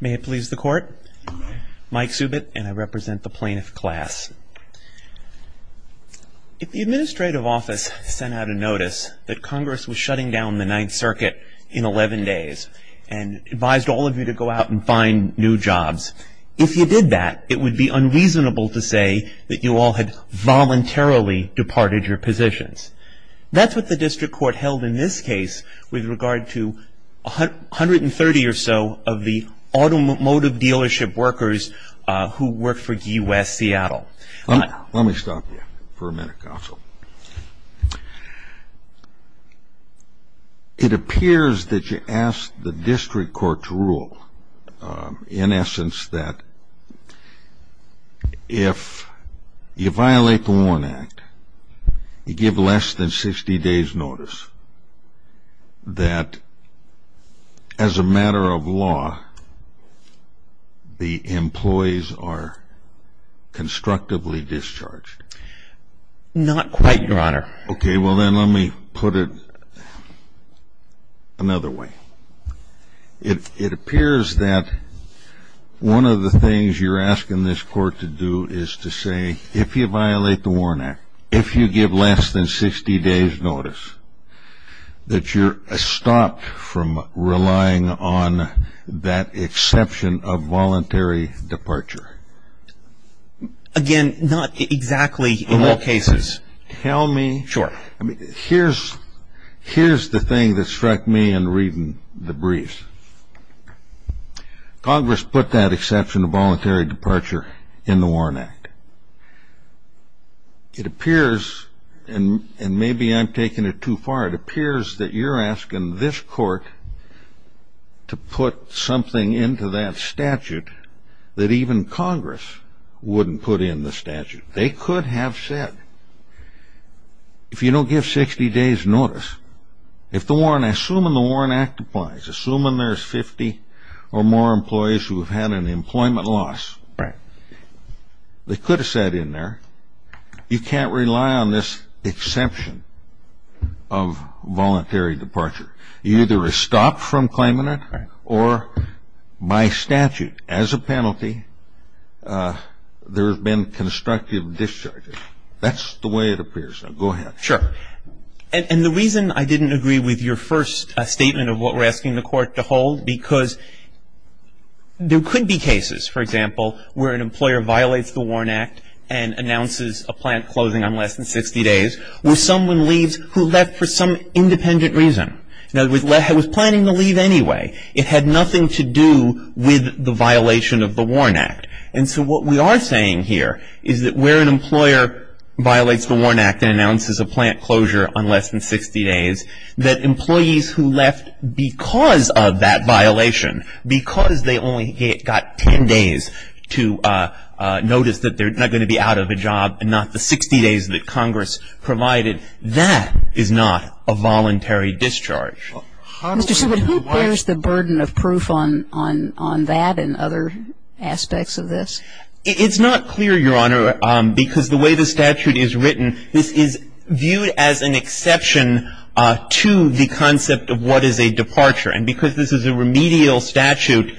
May it please the court. Mike Subit and I represent the plaintiff class. If the administrative office sent out a notice that Congress was shutting down the Ninth Circuit in 11 days and advised all of you to go out and find new jobs, if you did that, it would be unreasonable to say that you all had voluntarily departed your positions. That's what the district court held in this case with regard to 130 or so of the automotive dealership workers who work for Gee West Seattle. Let me stop you for a minute, counsel. It appears that you asked the district court to rule, in essence, that if you violate the WARN Act, you give less than 60 days' notice that, as a matter of law, the employees are constructively discharged. Not quite, Your Honor. Okay, well then let me put it another way. It appears that one of the things you're asking this court to do is to say, if you violate the WARN Act, if you give less than 60 days' notice, that you're stopped from relying on that exception of voluntary departure. Again, not exactly in all cases. Here's the thing that struck me in reading the briefs. Congress put that exception of voluntary departure in the WARN Act. It appears, and maybe I'm taking it too far, it appears that you're asking this court to put something into that statute They could have said, if you don't give 60 days' notice, assuming the WARN Act applies, assuming there's 50 or more employees who have had an employment loss, they could have said in there, you can't rely on this exception of voluntary departure. You're either stopped from claiming it, or by statute, as a penalty, there have been constructive discharges. That's the way it appears. Now, go ahead. Sure. And the reason I didn't agree with your first statement of what we're asking the court to hold, because there could be cases, for example, where an employer violates the WARN Act and announces a plan closing on less than 60 days, where someone leaves who left for some independent reason. Now, it was planning to leave anyway. It had nothing to do with the violation of the WARN Act. And so what we are saying here is that where an employer violates the WARN Act and announces a plan closure on less than 60 days, that employees who left because of that violation, because they only got 10 days to notice that they're not going to be out of a job and not the 60 days that Congress provided, that is not a voluntary discharge. Mr. Simon, who bears the burden of proof on that and other aspects of this? It's not clear, Your Honor, because the way the statute is written, this is viewed as an exception to the concept of what is a departure. And because this is a remedial statute,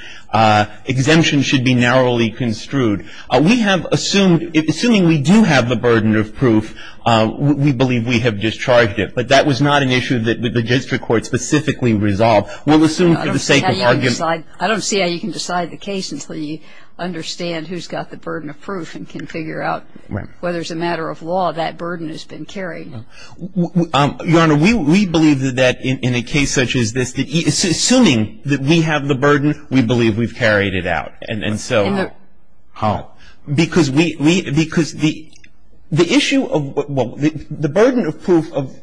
exemption should be narrowly construed. We have assumed, assuming we do have the burden of proof, we believe we have discharged But that was not an issue that the district court specifically resolved. We'll assume for the sake of argument. I don't see how you can decide the case until you understand who's got the burden of proof and can figure out whether it's a matter of law that burden has been carried. Your Honor, we believe that in a case such as this, assuming that we have the burden, we believe we've carried it out. And so how? Because we, because the issue of, well, the burden of proof of,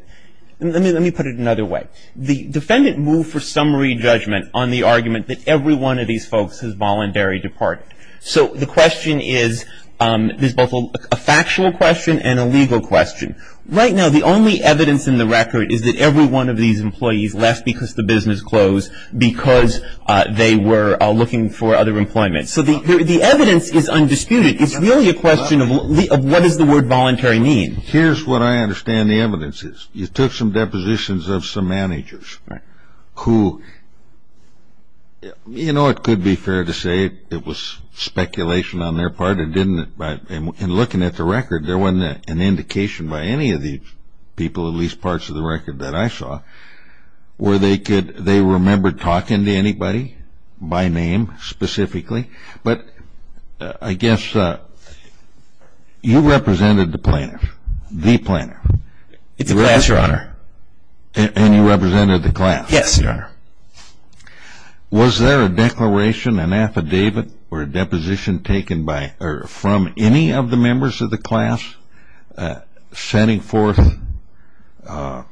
let me put it another way. The defendant moved for summary judgment on the argument that every one of these folks has voluntary departed. So the question is, there's both a factual question and a legal question. Right now, the only evidence in the record is that every one of these employees left because the business closed because they were looking for other employment. So the evidence is undisputed. It's really a question of what does the word voluntary mean? Here's what I understand the evidence is. You took some depositions of some managers who, you know, it could be fair to say it was speculation on their part and didn't, in looking at the record, there wasn't an indication by any of these people, at least parts of the record that I saw, where they could, they remembered talking to anybody by name specifically. But I guess you represented the plaintiff, the plaintiff. The class, Your Honor. And you represented the class. Yes, Your Honor. Was there a declaration, an affidavit or a deposition taken by or from any of the members of the class sending forth the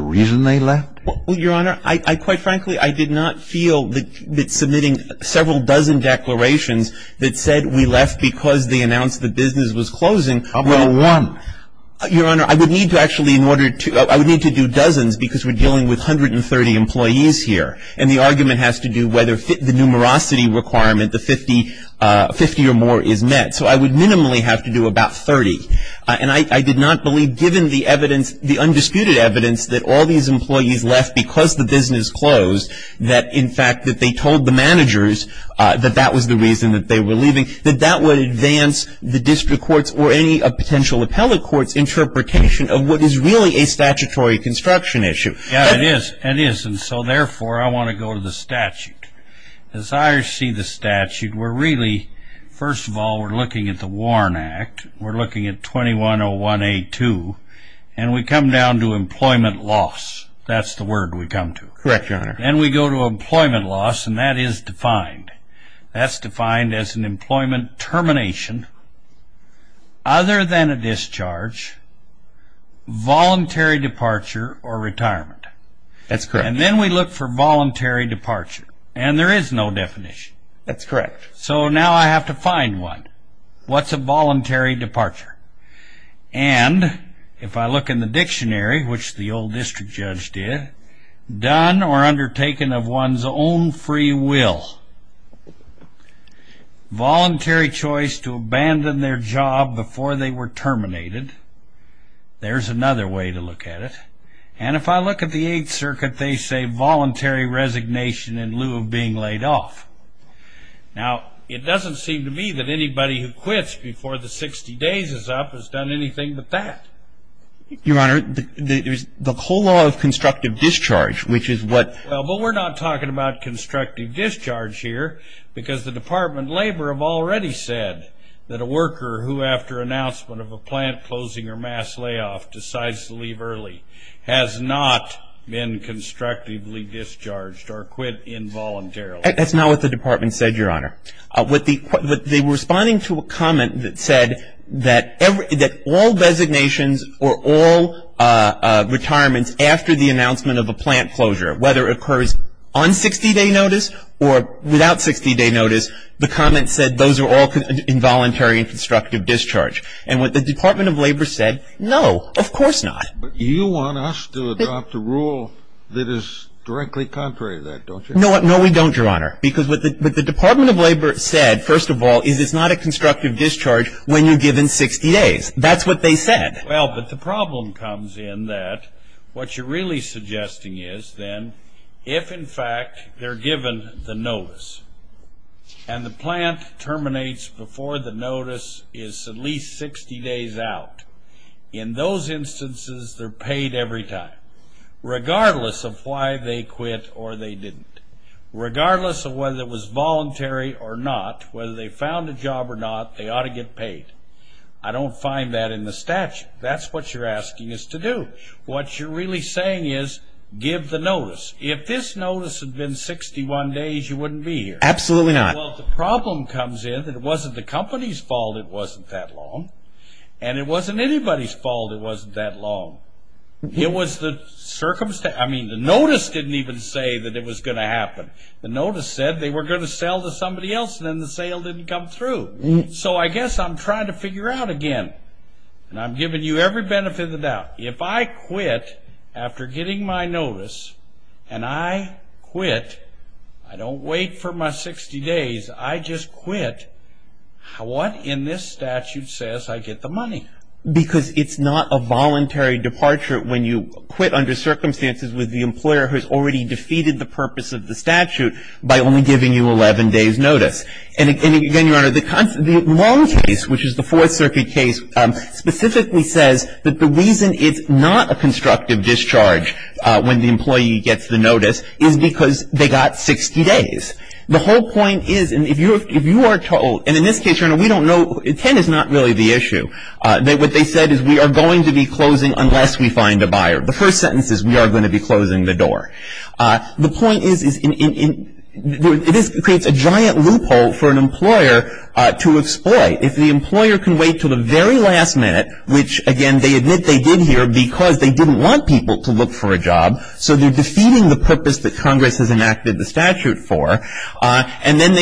reason they left? Well, Your Honor, I quite frankly, I did not feel that submitting several dozen declarations that said we left because they announced the business was closing. How about one? Your Honor, I would need to actually in order to, I would need to do dozens because we're dealing with 130 employees here. And the argument has to do whether the numerosity requirement, the 50 or more is met. So I would minimally have to do about 30. And I did not believe given the evidence, the undisputed evidence that all these employees left because the business closed, that in fact that they told the managers that that was the reason that they were leaving, that that would advance the district courts or any potential appellate courts interpretation of what is really a statutory construction issue. Yeah, it is. It is. And so therefore, I want to go to the statute. As I see the statute, we're really, first of all, we're looking at the Warren Act. We're looking at 2101A2. And we come down to employment loss. That's the word we come to. Correct, Your Honor. And we go to employment loss. And that is defined. That's defined as an employment termination other than a discharge, voluntary departure, or retirement. That's correct. And then we look for voluntary departure. And there is no definition. That's correct. So now I have to find one. What's a voluntary departure? And if I look in the dictionary, which the old district judge did, done or undertaken of one's own free will, voluntary choice to abandon their job before they were terminated, there's another way to look at it. And if I look at the Eighth Circuit, they say voluntary resignation in lieu of being laid off. Now, it doesn't seem to me that anybody who quits before the 60 days is up has done anything but that. Your Honor, the whole law of constructive discharge, which is what ---- Well, but we're not talking about constructive discharge here because the Department of Labor have already said that a worker who, after announcement of a plant closing or mass layoff, decides to leave early, has not been constructively discharged or quit involuntarily. That's not what the Department said, Your Honor. They were responding to a comment that said that all designations or all retirements after the announcement of a plant closure, whether it occurs on 60-day notice or without 60-day notice, the comment said those are all involuntary and constructive discharge. And what the Department of Labor said, no, of course not. But you want us to adopt a rule that is directly contrary to that, don't you? No, we don't, Your Honor. Because what the Department of Labor said, first of all, is it's not a constructive discharge when you're given 60 days. That's what they said. Well, but the problem comes in that what you're really suggesting is then if, in fact, they're given the notice and the plant terminates before the notice is at least 60 days out, in those instances they're paid every time, regardless of why they quit or they didn't, regardless of whether it was voluntary or not, whether they found a job or not, they ought to get paid. I don't find that in the statute. That's what you're asking us to do. What you're really saying is give the notice. If this notice had been 61 days, you wouldn't be here. Absolutely not. Well, the problem comes in that it wasn't the company's fault it wasn't that long, and it wasn't anybody's fault it wasn't that long. It was the circumstance. I mean, the notice didn't even say that it was going to happen. The notice said they were going to sell to somebody else, and then the sale didn't come through. So I guess I'm trying to figure out again, and I'm giving you every benefit of the doubt. If I quit after getting my notice, and I quit, I don't wait for my 60 days. I just quit, what in this statute says I get the money? Because it's not a voluntary departure when you quit under circumstances with the employer who has already defeated the purpose of the statute by only giving you 11 days' notice. And again, Your Honor, the long case, which is the Fourth Circuit case, specifically says that the reason it's not a constructive discharge when the employee gets the notice is because they got 60 days. The whole point is, and if you are told, and in this case, Your Honor, we don't know, 10 is not really the issue. What they said is we are going to be closing unless we find a buyer. The first sentence is we are going to be closing the door. The point is it creates a giant loophole for an employer to exploit. If the employer can wait until the very last minute, which, again, they admit they did here So they're defeating the purpose that Congress has enacted the statute for. And then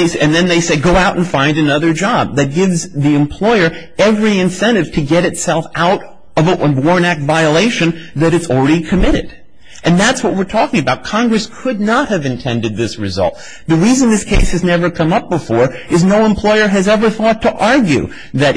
they say go out and find another job. That gives the employer every incentive to get itself out of a Warren Act violation that it's already committed. And that's what we're talking about. Congress could not have intended this result. The reason this case has never come up before is no employer has ever thought to argue that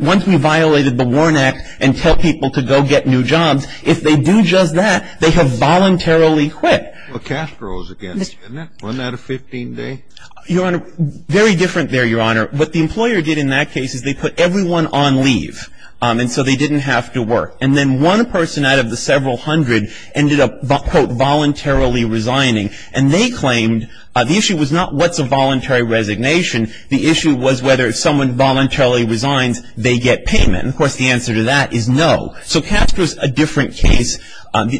once we violated the Warren Act and tell people to go get new jobs, if they do just that, they have voluntarily quit. Well, Castro is against it, isn't it? Wasn't that a 15-day? Your Honor, very different there, Your Honor. What the employer did in that case is they put everyone on leave. And so they didn't have to work. And then one person out of the several hundred ended up, quote, voluntarily resigning. And they claimed the issue was not what's a voluntary resignation. The issue was whether if someone voluntarily resigns, they get payment. And, of course, the answer to that is no. So Castro is a different case.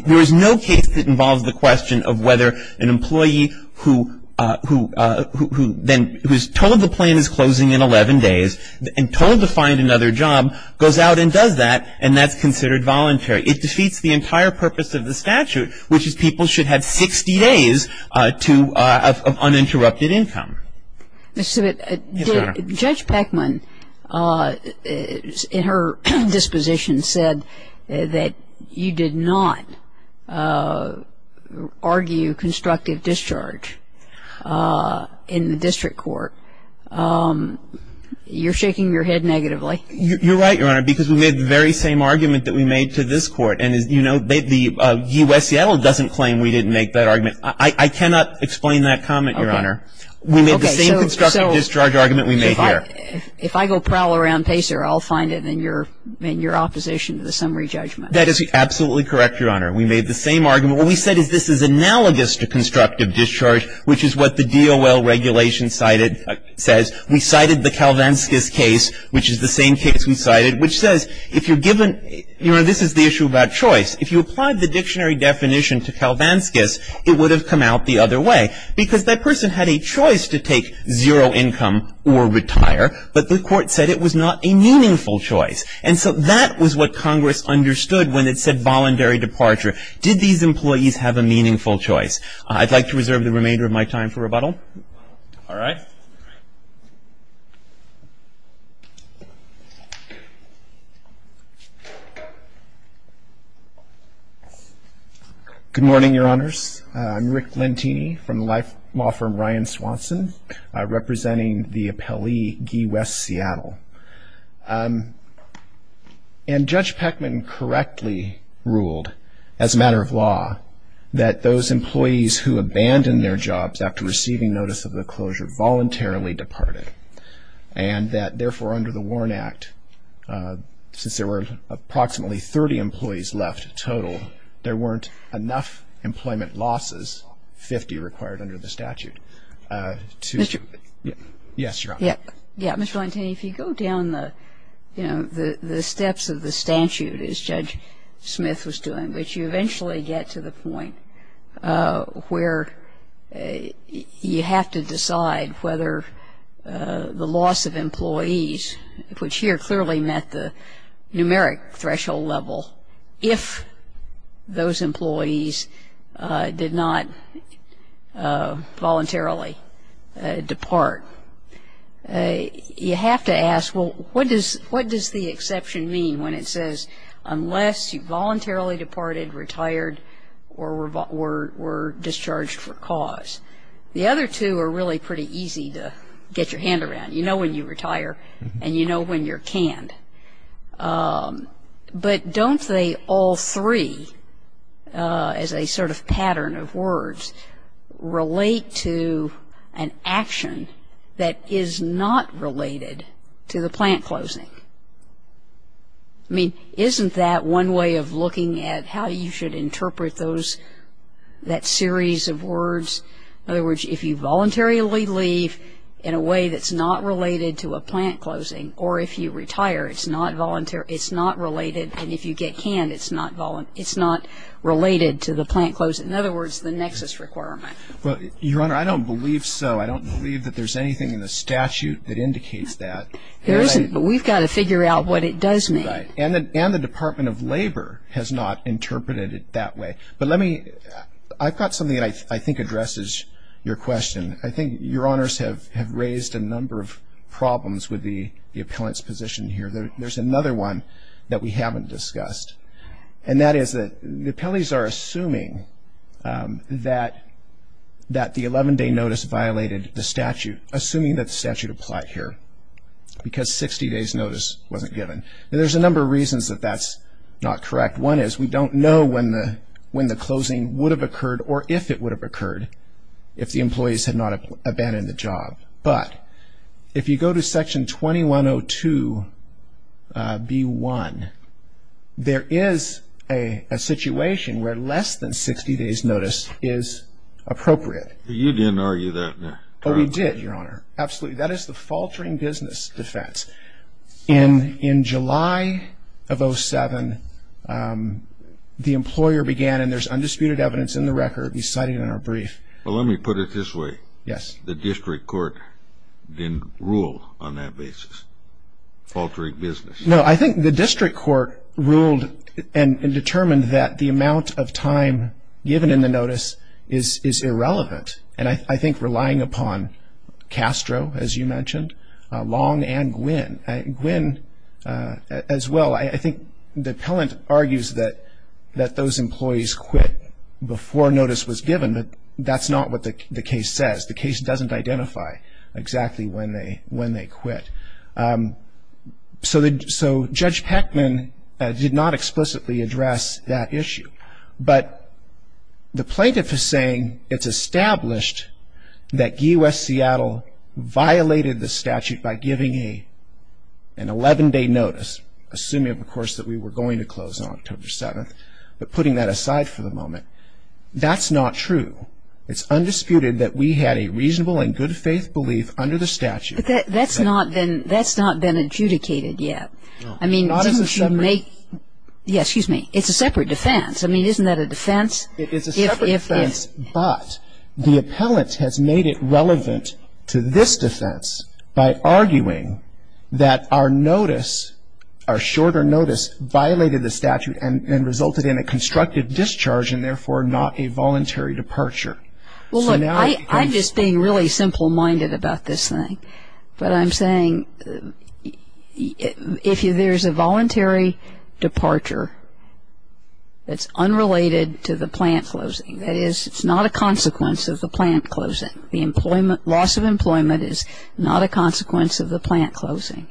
There is no case that involves the question of whether an employee who then was told the plan is closing in 11 days and told to find another job goes out and does that, and that's considered voluntary. It defeats the entire purpose of the statute, which is people should have 60 days of uninterrupted income. Yes, Your Honor. Judge Peckman, in her disposition, said that you did not argue constructive discharge in the district court. You're shaking your head negatively. You're right, Your Honor, because we made the very same argument that we made to this court. And, you know, U.S. Seattle doesn't claim we didn't make that argument. I cannot explain that comment, Your Honor. We made the same constructive discharge argument we made here. Okay. So if I go prowl around Pacer, I'll find it in your opposition to the summary judgment. That is absolutely correct, Your Honor. We made the same argument. What we said is this is analogous to constructive discharge, which is what the DOL regulation cited says. We cited the Kalvanskas case, which is the same case we cited, which says if you're given you know, this is the issue about choice. If you applied the dictionary definition to Kalvanskas, it would have come out the other way, because that person had a choice to take zero income or retire. But the court said it was not a meaningful choice. And so that was what Congress understood when it said voluntary departure. Did these employees have a meaningful choice? I'd like to reserve the remainder of my time for rebuttal. All right. Good morning, Your Honors. I'm Rick Lentini from the law firm Ryan Swanson, representing the appellee Guy West Seattle. And Judge Peckman correctly ruled, as a matter of law, that those employees who abandoned their jobs after receiving notice of the closure voluntarily left the firm. And that, therefore, under the Warren Act, since there were approximately 30 employees left total, there weren't enough employment losses, 50 required under the statute, to Mr. Yes, Your Honor. Yeah. Mr. Lentini, if you go down the, you know, the steps of the statute, as Judge Smith was doing, which you eventually get to the point where you have to decide whether the loss of employees, which here clearly met the numeric threshold level, if those employees did not voluntarily depart, you have to ask, well, what does the exception mean when it says, unless you voluntarily departed, retired, or were discharged for cause? The other two are really pretty easy to get your hand around. You know when you retire, and you know when you're canned. But don't they all three, as a sort of pattern of words, relate to an action that is not related to the plant closing? I mean, isn't that one way of looking at how you should interpret those, that series of words? In other words, if you voluntarily leave in a way that's not related to a plant closing, or if you retire, it's not related, and if you get canned, it's not related to the plant closing. In other words, the nexus requirement. Well, Your Honor, I don't believe so. I don't believe that there's anything in the statute that indicates that. There isn't, but we've got to figure out what it does mean. Right. And the Department of Labor has not interpreted it that way. But let me, I've got something that I think addresses your question. I think Your Honors have raised a number of problems with the appellant's position here. There's another one that we haven't discussed, and that is that the appellees are assuming that the 11-day notice violated the statute, assuming that the statute applied here, because 60 days notice wasn't given. And there's a number of reasons that that's not correct. One is we don't know when the closing would have occurred, or if it would have occurred, if the employees had not abandoned the job. But if you go to Section 2102B1, there is a situation where less than 60 days notice is appropriate. You didn't argue that in the trial. Oh, we did, Your Honor. Absolutely. That is the faltering business defense. In July of 2007, the employer began, and there's undisputed evidence in the record citing it in our brief. Well, let me put it this way. Yes. The district court didn't rule on that basis, faltering business. No, I think the district court ruled and determined that the amount of time given in the notice is irrelevant. And I think relying upon Castro, as you mentioned, Long, and Gwyn as well, I think the appellant argues that those employees quit before notice was given, but that's not what the case says. The case doesn't identify exactly when they quit. So Judge Peckman did not explicitly address that issue. But the plaintiff is saying it's established that GE West Seattle violated the statute by giving an 11-day notice, assuming, of course, that we were going to close on October 7th, but putting that aside for the moment. That's not true. It's undisputed that we had a reasonable and good faith belief under the statute. But that's not been adjudicated yet. No. I mean, didn't you make ñ yes, excuse me. It's a separate defense. I mean, isn't that a defense? It is a separate defense, but the appellant has made it relevant to this defense by arguing that our notice, our shorter notice, violated the statute and resulted in a constructive discharge and therefore not a voluntary departure. Well, look, I'm just being really simple-minded about this thing. But I'm saying if there's a voluntary departure that's unrelated to the plant closing, that is it's not a consequence of the plant closing, the loss of employment is not a consequence of the plant closing.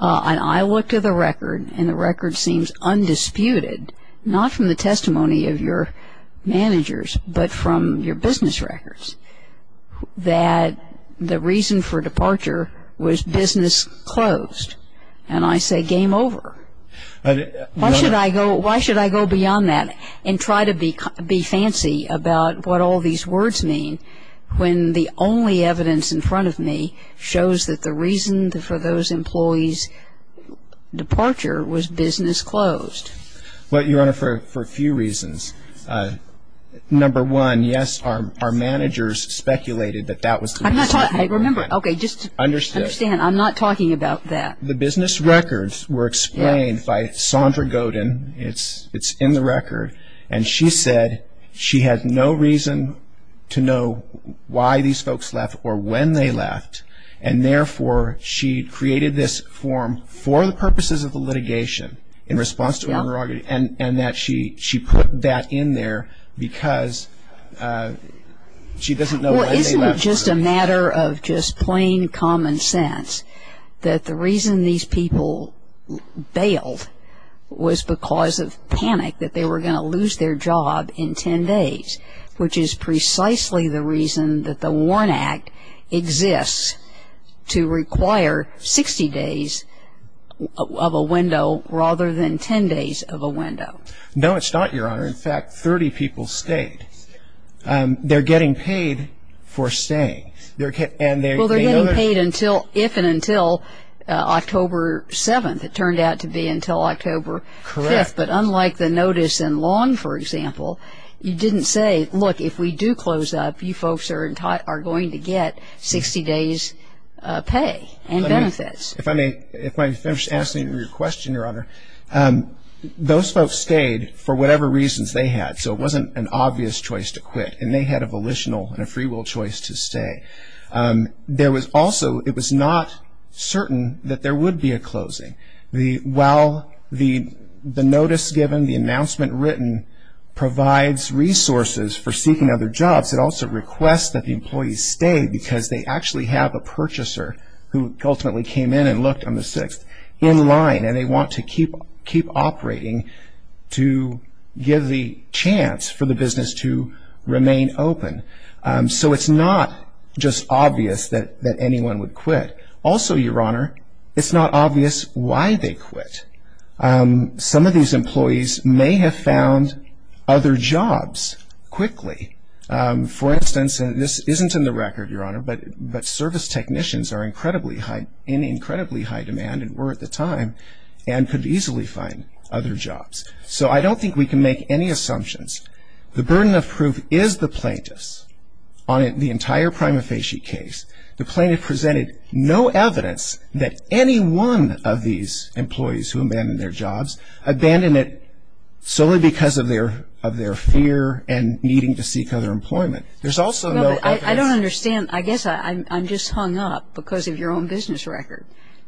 And I looked at the record, and the record seems undisputed, not from the testimony of your managers but from your business records, that the reason for departure was business closed. And I say game over. Why should I go beyond that and try to be fancy about what all these words mean when the only evidence in front of me shows that the reason for those employees' departure was business closed? Well, Your Honor, for a few reasons. Number one, yes, our managers speculated that that was the reason. I remember. Okay. Understand. I'm not talking about that. The business records were explained by Sondra Godin. It's in the record. And she said she had no reason to know why these folks left or when they left, and therefore she created this form for the purposes of the litigation in response to her argument and that she put that in there because she doesn't know when they left. Well, isn't it just a matter of just plain common sense that the reason these people bailed was because of panic that they were going to lose their job in 10 days, which is precisely the reason that the WARN Act exists to require 60 days of a window rather than 10 days of a window? No, it's not, Your Honor. In fact, 30 people stayed. They're getting paid for staying. Well, they're getting paid if and until October 7th. It turned out to be until October 5th. Correct. But unlike the notice in Long, for example, you didn't say, look, if we do close up, you folks are going to get 60 days' pay and benefits. If I may finish answering your question, Your Honor, those folks stayed for whatever reasons they had, so it wasn't an obvious choice to quit, and they had a volitional and a free will choice to stay. Also, it was not certain that there would be a closing. While the notice given, the announcement written, provides resources for seeking other jobs, it also requests that the employees stay because they actually have a purchaser who ultimately came in and looked on the 6th in line, and they want to keep operating to give the chance for the business to remain open. So it's not just obvious that anyone would quit. Also, Your Honor, it's not obvious why they quit. Some of these employees may have found other jobs quickly. For instance, and this isn't in the record, Your Honor, but service technicians are in incredibly high demand and were at the time, and could easily find other jobs. So I don't think we can make any assumptions. The burden of proof is the plaintiff's on the entire prima facie case. The plaintiff presented no evidence that any one of these employees who abandoned their jobs solely because of their fear and needing to seek other employment. There's also no evidence. I don't understand. I guess I'm just hung up because of your own business record,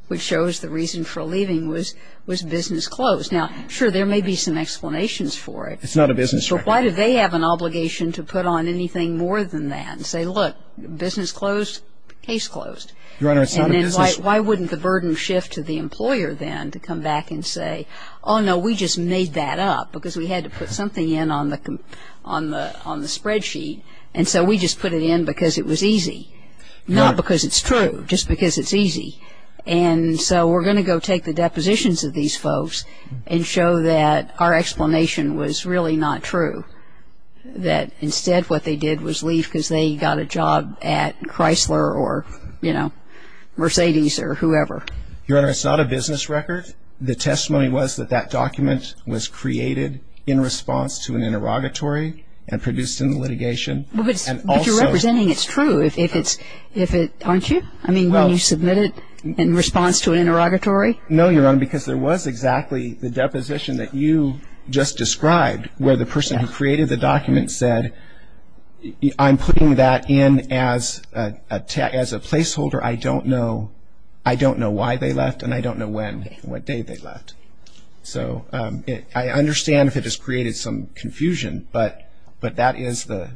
which shows the reason for leaving was business closed. Now, sure, there may be some explanations for it. It's not a business record. So why do they have an obligation to put on anything more than that and say, look, business closed, case closed? Your Honor, it's not a business record. Well, we didn't put anything on the spreadsheet for them to come back and say, oh, no, we just made that up because we had to put something in on the spreadsheet. And so we just put it in because it was easy, not because it's true, just because it's easy. And so we're going to go take the depositions of these folks and show that our explanation was really not true, that instead what they did was leave because they got a job at Chrysler or Mercedes or whoever. Your Honor, it's not a business record. The testimony was that that document was created in response to an interrogatory and produced in the litigation. But you're representing it's true, aren't you? I mean, when you submit it in response to an interrogatory? No, Your Honor, because there was exactly the deposition that you just described where the person who created the document said, I'm putting that in as a placeholder. I don't know why they left, and I don't know when and what day they left. So I understand if it has created some confusion, but that is the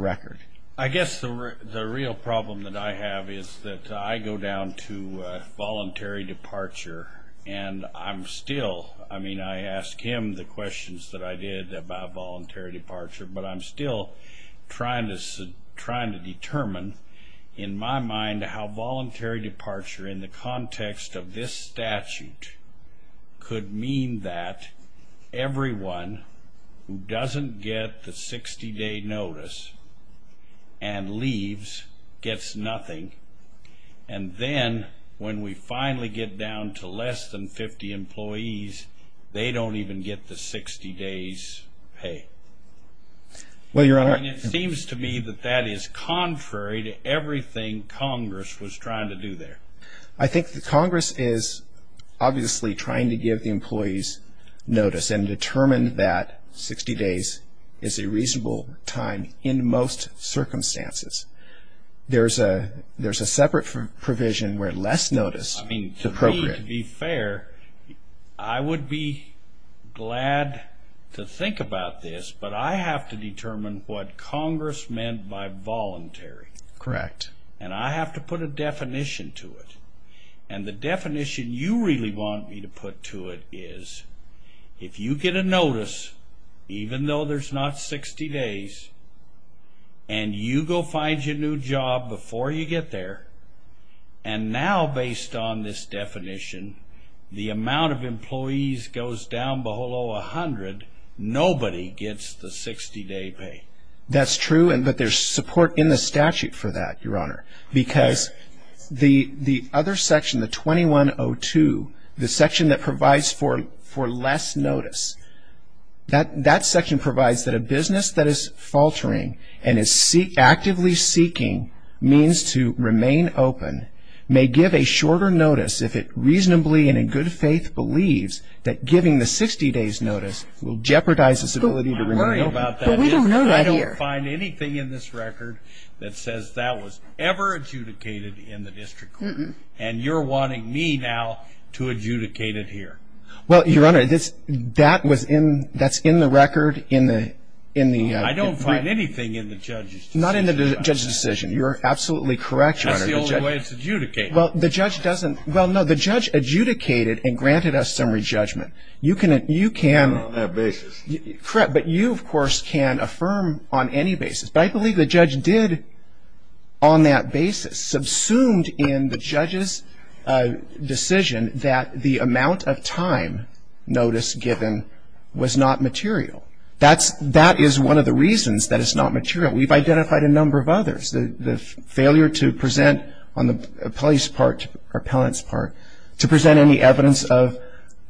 record. I guess the real problem that I have is that I go down to voluntary departure, and I'm still ‑‑ I mean, I ask him the questions that I did about voluntary departure, but I'm still trying to determine in my mind how voluntary departure in the context of this statute could mean that everyone who doesn't get the 60-day notice and leaves gets nothing, and then when we finally get down to less than 50 employees, they don't even get the 60-days pay. Well, Your Honor ‑‑ I mean, it seems to me that that is contrary to everything Congress was trying to do there. I think that Congress is obviously trying to give the employees notice and determine that 60 days is a reasonable time in most circumstances. There's a separate provision where less notice is appropriate. I mean, to me, to be fair, I would be glad to think about this, but I have to determine what Congress meant by voluntary. Correct. And I have to put a definition to it, and the definition you really want me to put to it is if you get a notice, even though there's not 60 days, and you go find your new job before you get there, and now based on this definition, the amount of employees goes down below 100, nobody gets the 60-day pay. That's true, but there's support in the statute for that, Your Honor, because the other section, the 2102, the section that provides for less notice, that section provides that a business that is faltering and is actively seeking means to remain open may give a shorter notice if it reasonably and in good faith believes that giving the 60-days notice will jeopardize its ability to remain open. But we don't know that here. That says that was ever adjudicated in the district court, and you're wanting me now to adjudicate it here. Well, Your Honor, that's in the record in the... I don't find anything in the judge's decision. Not in the judge's decision. You're absolutely correct, Your Honor. That's the only way it's adjudicated. Well, the judge doesn't... Well, no, the judge adjudicated and granted us summary judgment. You can... On that basis. Correct, but you, of course, can affirm on any basis. But I believe the judge did on that basis, subsumed in the judge's decision that the amount of time notice given was not material. That is one of the reasons that it's not material. We've identified a number of others. The failure to present on the appellee's part, or appellant's part, to present any evidence of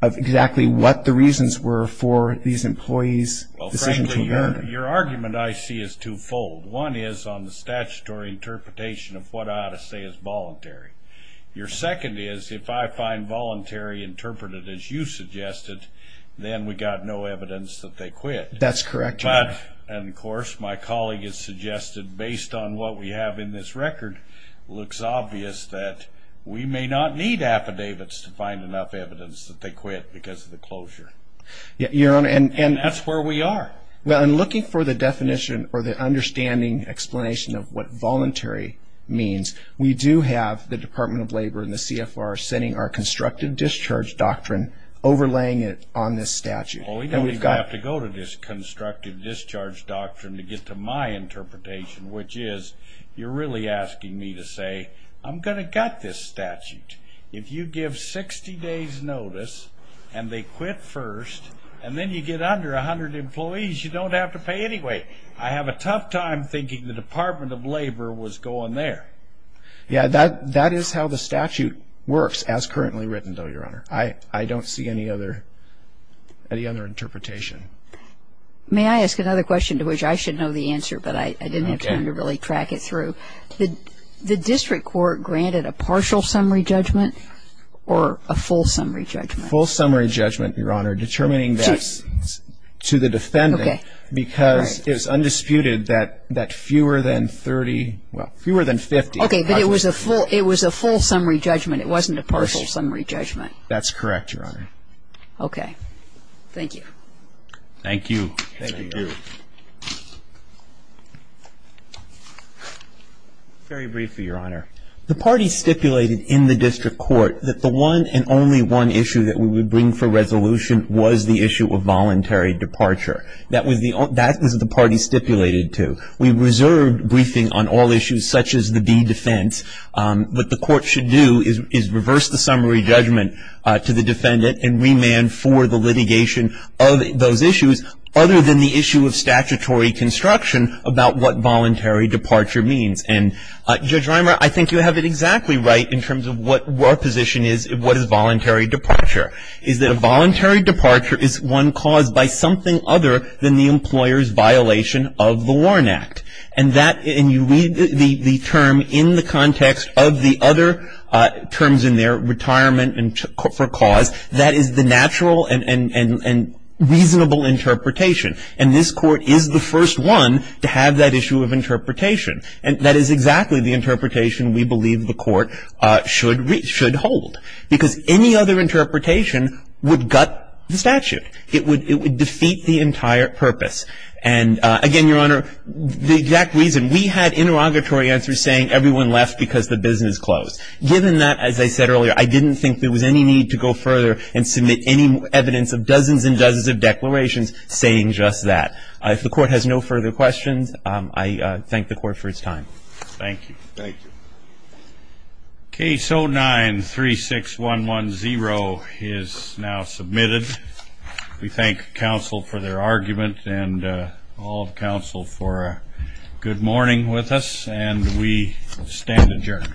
exactly what the reasons were for these employees' decision to adjourn. Your argument, I see, is twofold. One is on the statutory interpretation of what I ought to say is voluntary. Your second is if I find voluntary interpreted as you suggested, then we've got no evidence that they quit. That's correct, Your Honor. And, of course, my colleague has suggested, based on what we have in this record, looks obvious that we may not need affidavits to find enough evidence that they quit because of the closure. Your Honor, and... And that's where we are. Well, in looking for the definition or the understanding explanation of what voluntary means, we do have the Department of Labor and the CFR setting our constructive discharge doctrine, overlaying it on this statute. Well, we don't even have to go to this constructive discharge doctrine to get to my interpretation, which is you're really asking me to say, I'm going to gut this statute. If you give 60 days' notice and they quit first, and then you get under 100 employees, you don't have to pay anyway. I have a tough time thinking the Department of Labor was going there. Yeah, that is how the statute works as currently written, though, Your Honor. I don't see any other interpretation. May I ask another question to which I should know the answer, but I didn't have time to really track it through? The district court granted a partial summary judgment or a full summary judgment? Full summary judgment, Your Honor, determining that to the defendant because it was undisputed that fewer than 30, well, fewer than 50... Okay. But it was a full summary judgment. It wasn't a partial summary judgment. That's correct, Your Honor. Okay. Thank you. Thank you. Thank you. Very briefly, Your Honor. The party stipulated in the district court that the one and only one issue that we would bring for resolution was the issue of voluntary departure. That was the party stipulated to. We reserved briefing on all issues such as the D defense. What the court should do is reverse the summary judgment to the defendant construction about what voluntary departure means. And, Judge Reimer, I think you have it exactly right in terms of what our position is, what is voluntary departure. Is that a voluntary departure is one caused by something other than the employer's violation of the Warren Act. And that, and you read the term in the context of the other terms in there, retirement for cause, that is the natural and reasonable interpretation. And this court is the first one to have that issue of interpretation. And that is exactly the interpretation we believe the court should hold. Because any other interpretation would gut the statute. It would defeat the entire purpose. And, again, Your Honor, the exact reason, we had interrogatory answers saying everyone left because the business closed. Given that, as I said earlier, I didn't think there was any need to go further and submit any evidence of dozens and dozens of declarations saying just that. If the court has no further questions, I thank the court for its time. Thank you. Thank you. Case 09-36110 is now submitted. We thank counsel for their argument and all of counsel for a good morning with us. And we stand adjourned.